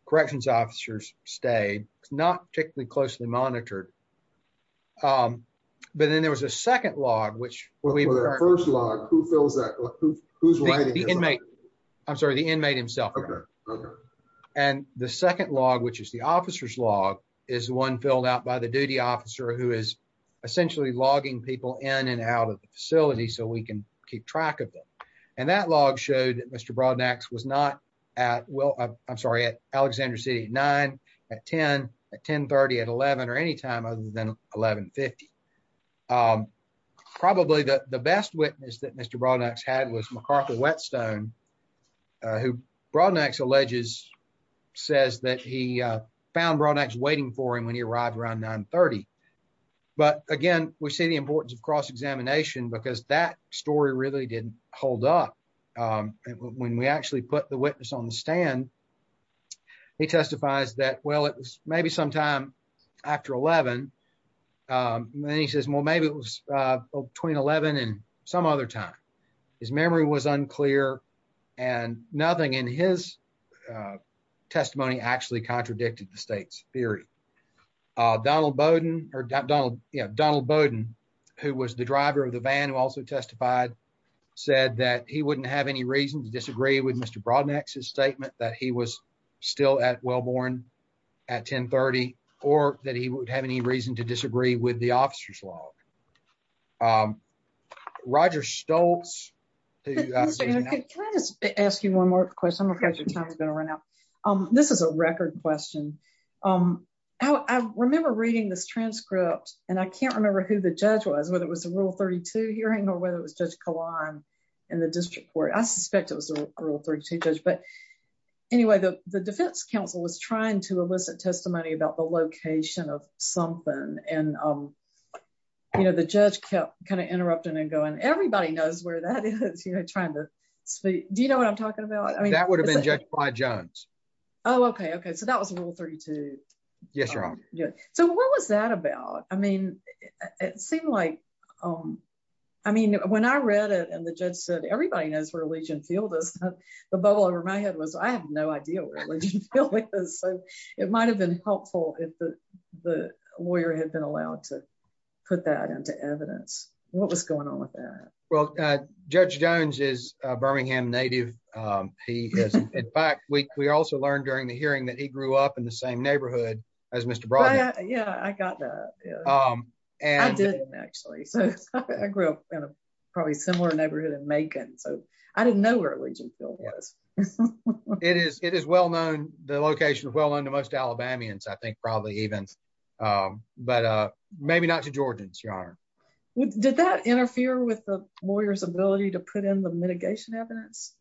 corrections officers stayed, not particularly closely monitored. Um, but then there was a second log, which we've heard first log who fills that, who's writing the inmate. I'm sorry. The inmate himself. Okay. Okay. And the second log, which is the officer's log is the one filled out by the duty officer who is essentially logging people in and out of the facility so we can keep track of them. And that log showed that Mr. Brodnack's was not at, well, I'm sorry, at Alexander city nine at 10, at 11 or any time other than 1150. Um, probably the best witness that Mr. Brodnack's had was McCarthy Whetstone, uh, who Brodnack's alleges says that he, uh, found Brodnack's waiting for him when he arrived around nine 30. But again, we see the importance of cross-examination because that story really didn't hold up. Um, when we actually put the witness on the stand, he testifies that, well, maybe sometime after 11. Um, and then he says, well, maybe it was, uh, between 11 and some other time. His memory was unclear and nothing in his, uh, testimony actually contradicted the state's theory. Uh, Donald Bowden or Donald, you know, Donald Bowden, who was the driver of the van who also testified said that he wouldn't have any reason to disagree with Mr. Brodnack's statement that he was still at well-born at 10 30, or that he would have any reason to disagree with the officer's log, um, Roger Stolz. Can I just ask you one more question? I'm afraid your time has been run out. Um, this is a record question. Um, I remember reading this transcript and I can't remember who the judge was, whether it was the rule 32 hearing or whether it was just Kahlon in the district court, I suspect it was a rule 32 judge, but anyway, the defense council was trying to elicit testimony about the location of something and, um, you know, the judge kept kind of interrupting and going, everybody knows where that is. You're trying to speak. Do you know what I'm talking about? I mean, that would have been judged by Jones. Oh, okay. Okay. So that was a rule 32. Yes. So what was that about? I mean, it seemed like, um, I mean, when I read it and the judge said, everybody knows where Legion Field is, the bubble over my head was, I have no idea where Legion Field is. So it might've been helpful if the, the lawyer had been allowed to put that into evidence. What was going on with that? Well, uh, Judge Jones is a Birmingham native. Um, he has, in fact, we, we also learned during the hearing that he grew up in the same neighborhood as Mr. Brodhead. Yeah, I got that. Yeah. Um, and I didn't actually, so I grew up in a probably similar neighborhood in so I didn't know where Legion Field was. It is, it is well known. The location is well known to most Alabamians. I think probably even, um, but, uh, maybe not to Georgians, Your Honor. Did that interfere with the lawyer's ability to put in the mitigation evidence?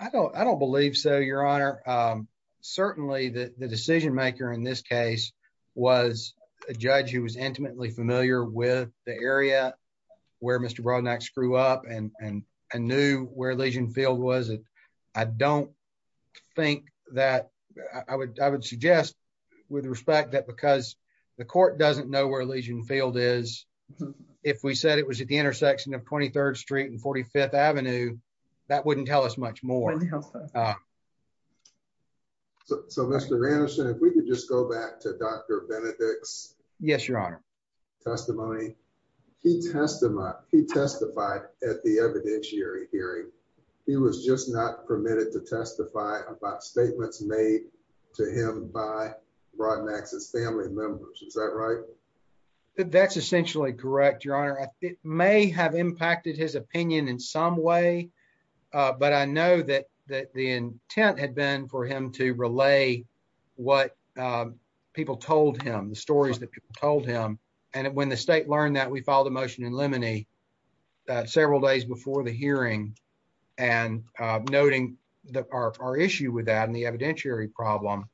I don't, I don't believe so, Your Honor. Um, certainly the decision maker in this case was a judge who was intimately familiar with the area where Mr. Brodnack grew up and, and I knew where Legion Field was. And I don't think that I would, I would suggest with respect that because the court doesn't know where Legion Field is, if we said it was at the intersection of 23rd street and 45th Avenue, that wouldn't tell us much more. So, so Mr. Anderson, if we could just go back to Dr. Benedict's. Yes, Your Honor. Testimony, he testified, he testified at the evidentiary hearing. He was just not permitted to testify about statements made to him by Brodnack's family members. Is that right? That's essentially correct, Your Honor. I think it may have impacted his opinion in some way. Uh, but I know that, that the intent had been for him to relay what, um, people told him, the stories that people told him. And when the state learned that we filed a motion in Lemony, uh, several days before the hearing and, uh, noting that our, our issue with that and the evidentiary problem,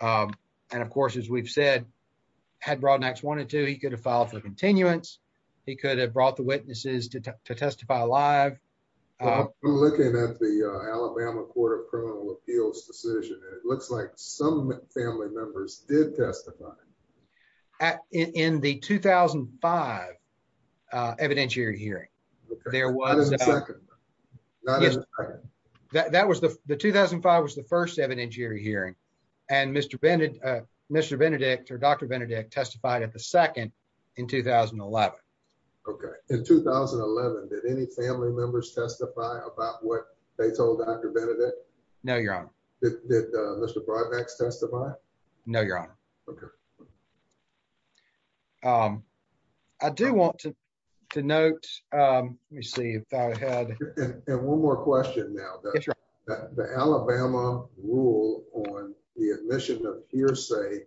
um, and of course, as we've said, had Brodnack's wanted to, he could have filed for continuance. He could have brought the witnesses to testify live. I'm looking at the Alabama court of criminal appeals decision. It looks like some family members did testify. At, in the 2005, uh, evidentiary hearing, there was, that was the, the 2005 was the first evidentiary hearing. And Mr. Benedict, uh, Mr. Benedict or Dr. Benedict testified at the second in 2011. Okay. In 2011, did any family members testify about what they told Dr. Benedict? No, Your Honor. Did, did, uh, Mr. Brodnack's testify? No, Your Honor. Okay. Um, I do want to, to note, um, let me see if I had, and one more question now, the Alabama rule on the admission of hearsay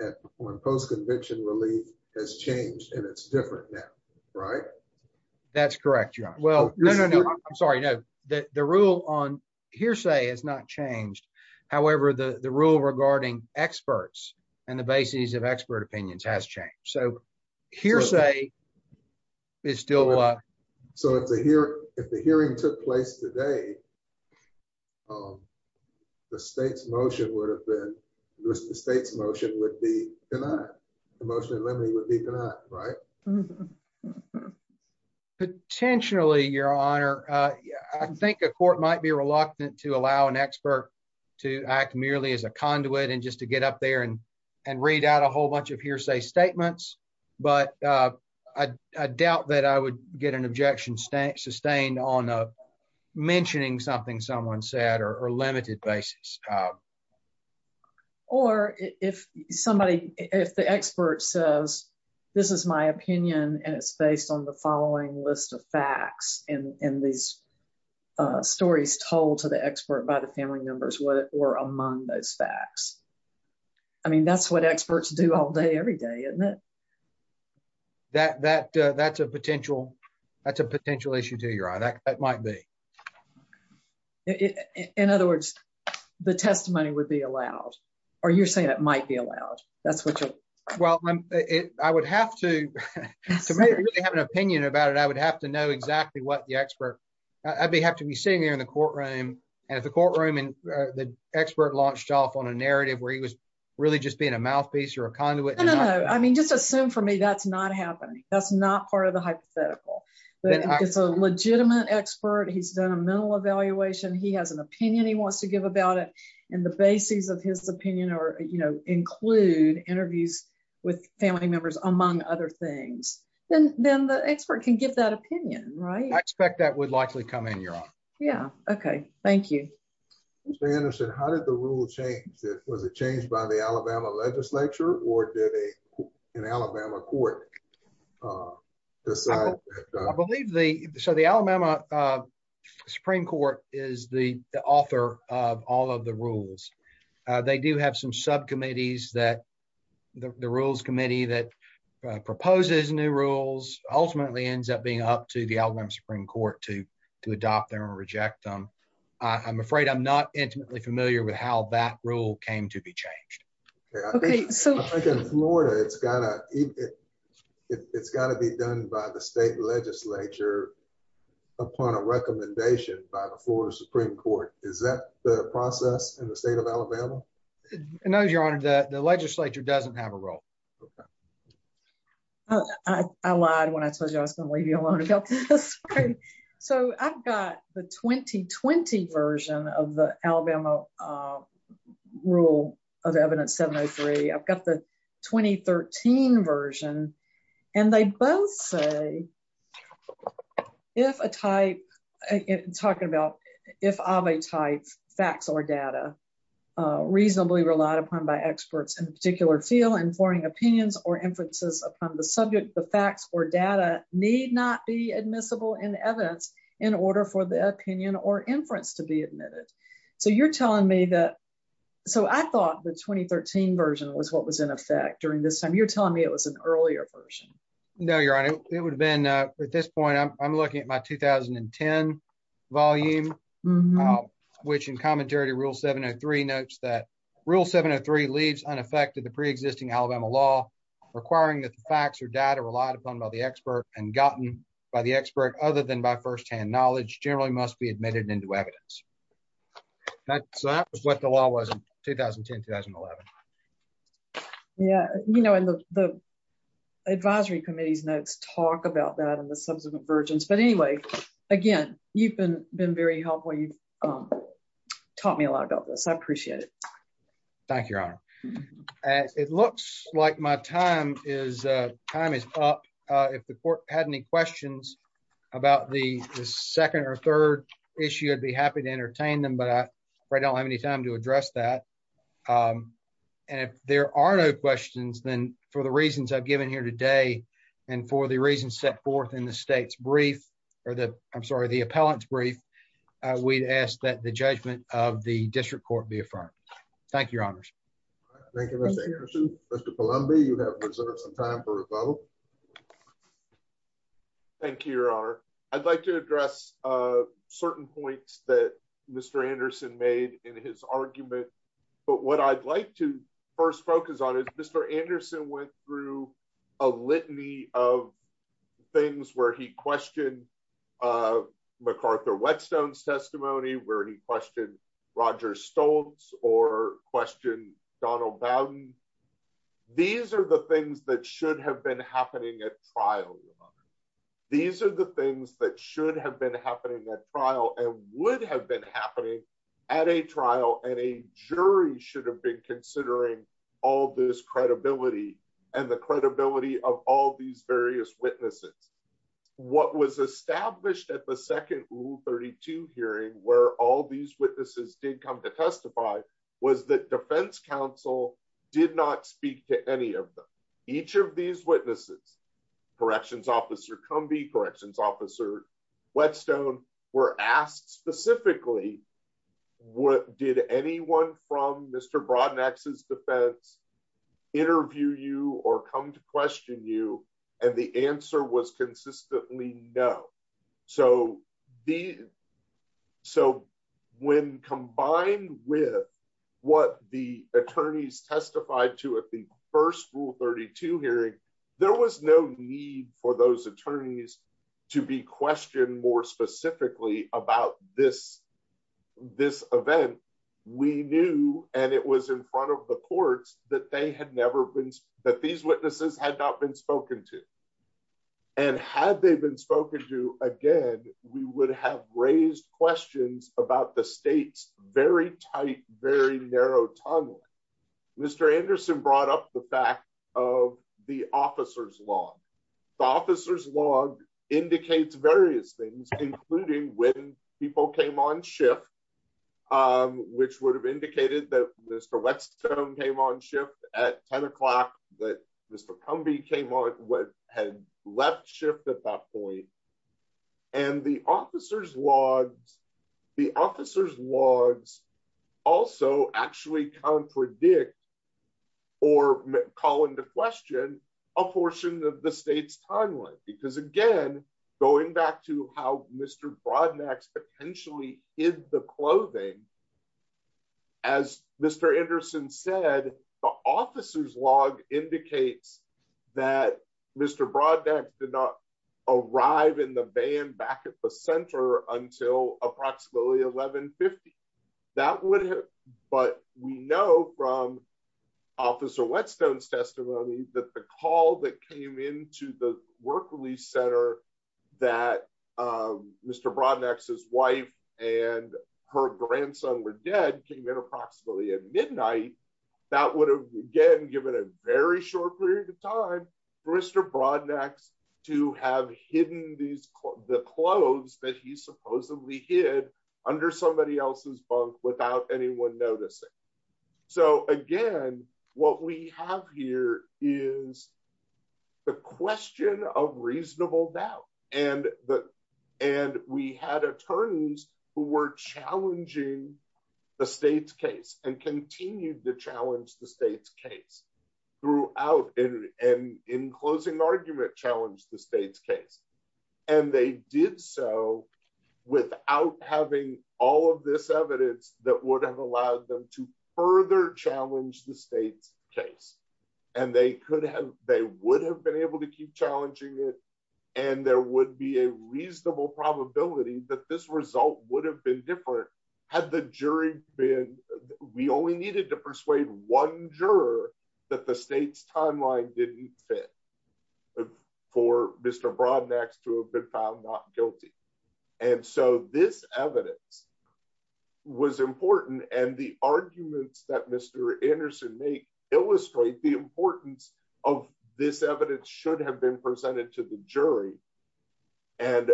at, on post-conviction relief has changed and it's different now, right? That's correct, Your Honor. Well, no, no, no, I'm sorry. The, the rule on hearsay has not changed. However, the, the rule regarding experts and the basis of expert opinions has changed. So hearsay is still, uh, So if the hearing, if the hearing took place today, um, the state's motion would have been, the state's motion would be denied. The motion in limine would be denied, right? Potentially, Your Honor, uh, I think a court might be reluctant to allow an expert to act merely as a conduit and just to get up there and, and read out a whole bunch of hearsay statements. But, uh, I, I doubt that I would get an objection sustained on, uh, mentioning something someone said or, or limited basis. Uh, or if somebody, if the expert says, this is my opinion and it's based on the following list of facts and, and these, uh, stories told to the expert by the family members, what were among those facts, I mean, that's what experts do all day, every day, isn't it? That, that, uh, that's a potential, that's a potential issue too, Your Honor. That, that might be. In other words, the testimony would be allowed, or you're saying it might be allowed. That's what you're. Well, I would have to have an opinion about it. I would have to know exactly what the expert, I'd be, have to be sitting there in the courtroom. And if the courtroom and the expert launched off on a narrative where he was really just being a mouthpiece or a conduit, I mean, just assume for me, that's not happening. That's not part of the hypothetical, but it's a legitimate expert. He's done a mental evaluation. He has an opinion he wants to give about it. And the basis of his opinion, or, you know, include interviews with family members, among other things, then, then the expert can give that opinion, right? I expect that would likely come in, Your Honor. Yeah. Okay. Thank you. Mr. Anderson, how did the rule change? Was it changed by the Alabama legislature or did a, an Alabama court, uh, decide? I believe the, so the Alabama, uh, Supreme court is the author of all of the rules. Uh, they do have some subcommittees that the rules committee that, uh, proposes new rules ultimately ends up being up to the Alabama Supreme court to, to adopt them and reject them. I'm afraid I'm not intimately familiar with how that rule came to be changed. Okay. I think in Florida, it's gotta, it's gotta be done by the state legislature upon a recommendation by the Florida Supreme court. Is that the process in the state of Alabama? No, Your Honor, the legislature doesn't have a role. Uh, I lied when I told you I was going to leave you alone. So I've got the 2020 version of the Alabama, uh, rule of evidence 703. I've got the 2013 version and they both say, if a type, talking about, if of a type facts or data, uh, reasonably relied upon by experts in a particular field informing opinions or inferences upon the subject, the facts or data need not be admissible in evidence in order for the opinion or inference to be admitted. So you're telling me that. So I thought the 2013 version was what was in effect during this time. You're telling me it was an earlier version. No, Your Honor, it would have been, uh, at this point, I'm looking at my 2010 volume, which in commentary to rule 703 notes that rule 703 leads unaffected the preexisting Alabama law requiring that the facts or data relied upon by the expert and gotten by the expert other than by firsthand knowledge generally must be admitted into evidence. That's what the law was in 2010, 2011. Yeah. You know, and the, the advisory committee's notes talk about that and the subsequent versions. But anyway, again, you've been, been very helpful. You've taught me a lot about this. I appreciate it. Thank you, Your Honor. It looks like my time is, uh, time is up. Uh, if the court had any questions about the second or third issue, I'd be happy to entertain them, but I don't have any time to address that. Um, and if there are no questions, then for the reasons I've given here today and for the reasons set forth in the state's brief or the, I'm sorry, the appellant's brief, uh, we'd ask that the judgment of the district court be affirmed. Thank you, Your Honors. Thank you, Mr. Anderson. Mr. Columbia, you have reserved some time for rebuttal. Thank you, Your Honor. I'd like to address, uh, certain points that Mr. Anderson made in his argument. But what I'd like to first focus on is Mr. Anderson went through a litany of things where he questioned, uh, MacArthur-Whetstone's testimony, where he questioned Roger Stoltz or questioned Donald Bowden. These are the things that should have been happening at trial, Your Honor. These are the things that should have been happening at trial and would have been happening at a trial. And a jury should have been considering all this credibility and the credibility of all these various witnesses. What was established at the second rule 32 hearing where all these witnesses did come to testify was that defense counsel did not speak to any of them. Each of these witnesses, corrections officer Cumbie, corrections officer Whetstone were asked specifically, what did anyone from Mr. Brodnax's defense interview you or come to question you? And the answer was consistently no. So the, so when combined with what the attorneys testified to at the first rule 32 hearing, there was no need for those attorneys to be questioned more specifically about this, this event. We knew, and it was in front of the courts that they had never been, that these witnesses had not been spoken to. And had they been spoken to again, we would have raised questions about the state's very tight, very narrow tunnel. Mr. Anderson brought up the fact of the officer's log, the officer's log indicates various things, including when people came on shift, which would have indicated that Mr. Whetstone came on shift at 10 o'clock that Mr. Cumbie came on, had left shift at that point. And the officer's logs, the officer's logs also actually contradict or call into question a portion of the state's timeline. Because again, going back to how Mr. Brodnax potentially hid the clothing, as Mr. Anderson said, the officer's log indicates that Mr. Brodnax did not arrive in the van back at the center until approximately 1150. That would have, but we know from officer Whetstone's testimony that the call that came into the work release center that Mr. Brodnax's wife and her grandson were dead came in approximately at midnight. That would have again, given a very short period of time for Mr. Brodnax to have hidden these, the clothes that he supposedly hid under somebody else's bunk without anyone noticing. So again, what we have here is the question of reasonable doubt. And the, and we had attorneys who were challenging the state's case and continued to challenge the state's case throughout and in closing argument, challenged the state's case. And they did so without having all of this evidence that would have allowed them to further challenge the state's case. And they could have, they would have been able to keep challenging it. And there would be a reasonable probability that this result would have been different. Had the jury been, we only needed to persuade one juror that the state's timeline didn't fit for Mr. Brodnax to have been found not guilty. And so this evidence was important and the arguments that Mr. Anderson may illustrate the importance of this evidence should have been presented to the jury and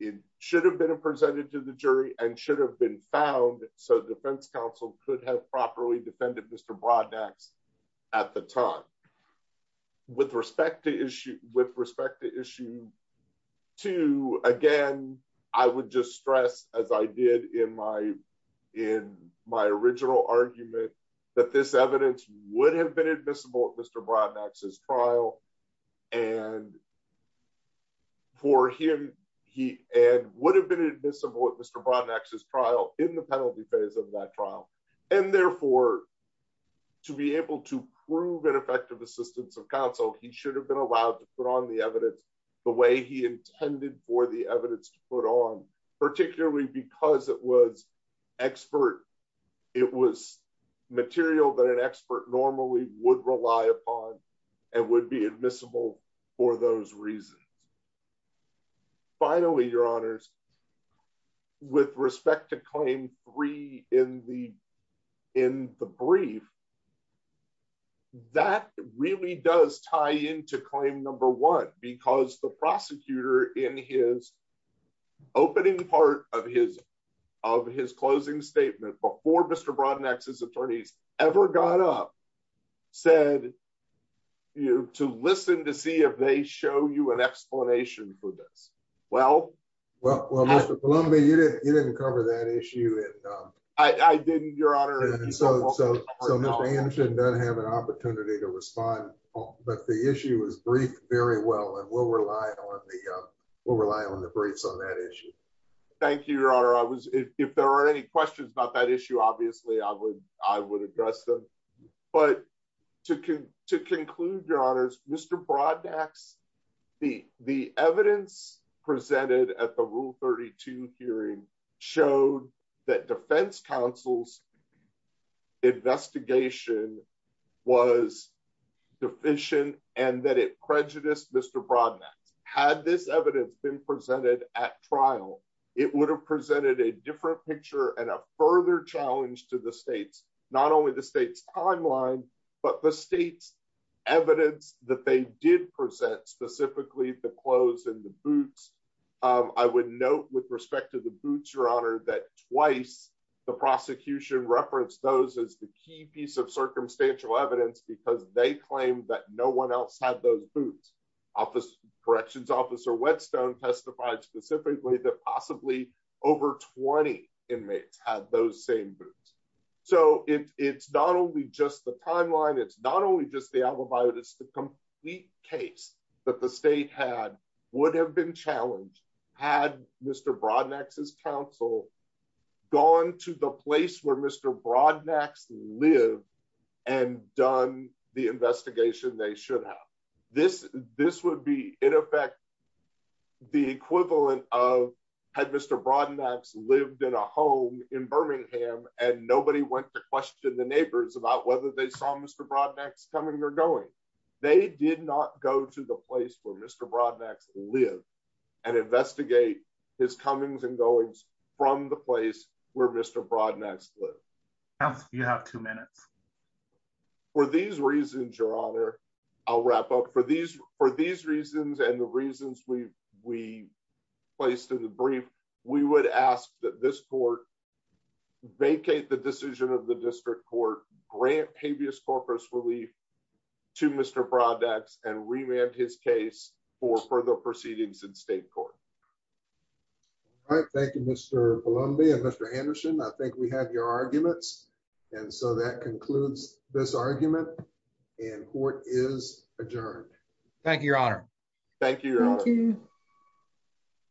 it should have been presented to the jury and should have been found so defense counsel could have properly defended Mr. Brodnax at the time with respect to issue with respect to issue two. Again, I would just stress as I did in my, in my original argument that this for him, he, and would have been admissible at Mr. Brodnax's trial in the penalty phase of that trial. And therefore to be able to prove an effective assistance of counsel, he should have been allowed to put on the evidence the way he intended for the evidence to put on, particularly because it was expert, it was material that an Finally, your honors with respect to claim three in the, in the brief that really does tie into claim number one, because the prosecutor in his opening part of his, of his closing statement before Mr. Brodnax's attorneys ever got up, said to listen, to see if they show you an explanation for this. Well, well, well, Mr. Columbia, you didn't, you didn't cover that issue. And I didn't, your honor. And so, so, so Mr. Anderson doesn't have an opportunity to respond, but the issue was briefed very well, and we'll rely on the, we'll rely on the briefs on that issue. Thank you, your honor. I was, if there are any questions about that issue, obviously I would, I would address them, but to, to conclude your honors, Mr. Brodnax, the, the evidence presented at the rule 32 hearing showed that defense counsel's investigation was deficient and that it prejudiced Mr. Brodnax had this evidence been presented at trial. It would have presented a different picture and a further challenge to the states, not only the state's timeline, but the state's evidence that they did present specifically the clothes and the boots. I would note with respect to the boots, your honor, that twice the prosecution referenced those as the key piece of circumstantial evidence, because they claimed that no one else had those boots. Office corrections officer Whetstone testified specifically that possibly over 20 inmates had those same boots. So it's not only just the timeline, it's not only just the alibi, but it's the complete case that the state had would have been challenged had Mr. Brodnax's counsel gone to the place where Mr. Brodnax lived and done the investigation they should have. This, this would be in effect, the equivalent of had Mr. Brodnax lived in a home in Birmingham and nobody went to question the neighbors about whether they saw Mr. Brodnax coming or going, they did not go to the place where Mr. Brodnax lived and investigate his comings and goings from the place where Mr. Brodnax lived. You have two minutes. For these reasons, your honor, I'll wrap up for these, for these reasons and the reasons we, we placed in the brief, we would ask that this court vacate the decision of the district court, grant habeas corpus relief to Mr. Brodnax and remand his case for further proceedings in state court. All right. Thank you, Mr. Columbia, Mr. Anderson. I think we have your arguments. And so that concludes this argument and court is adjourned. Thank you, your honor. Thank you.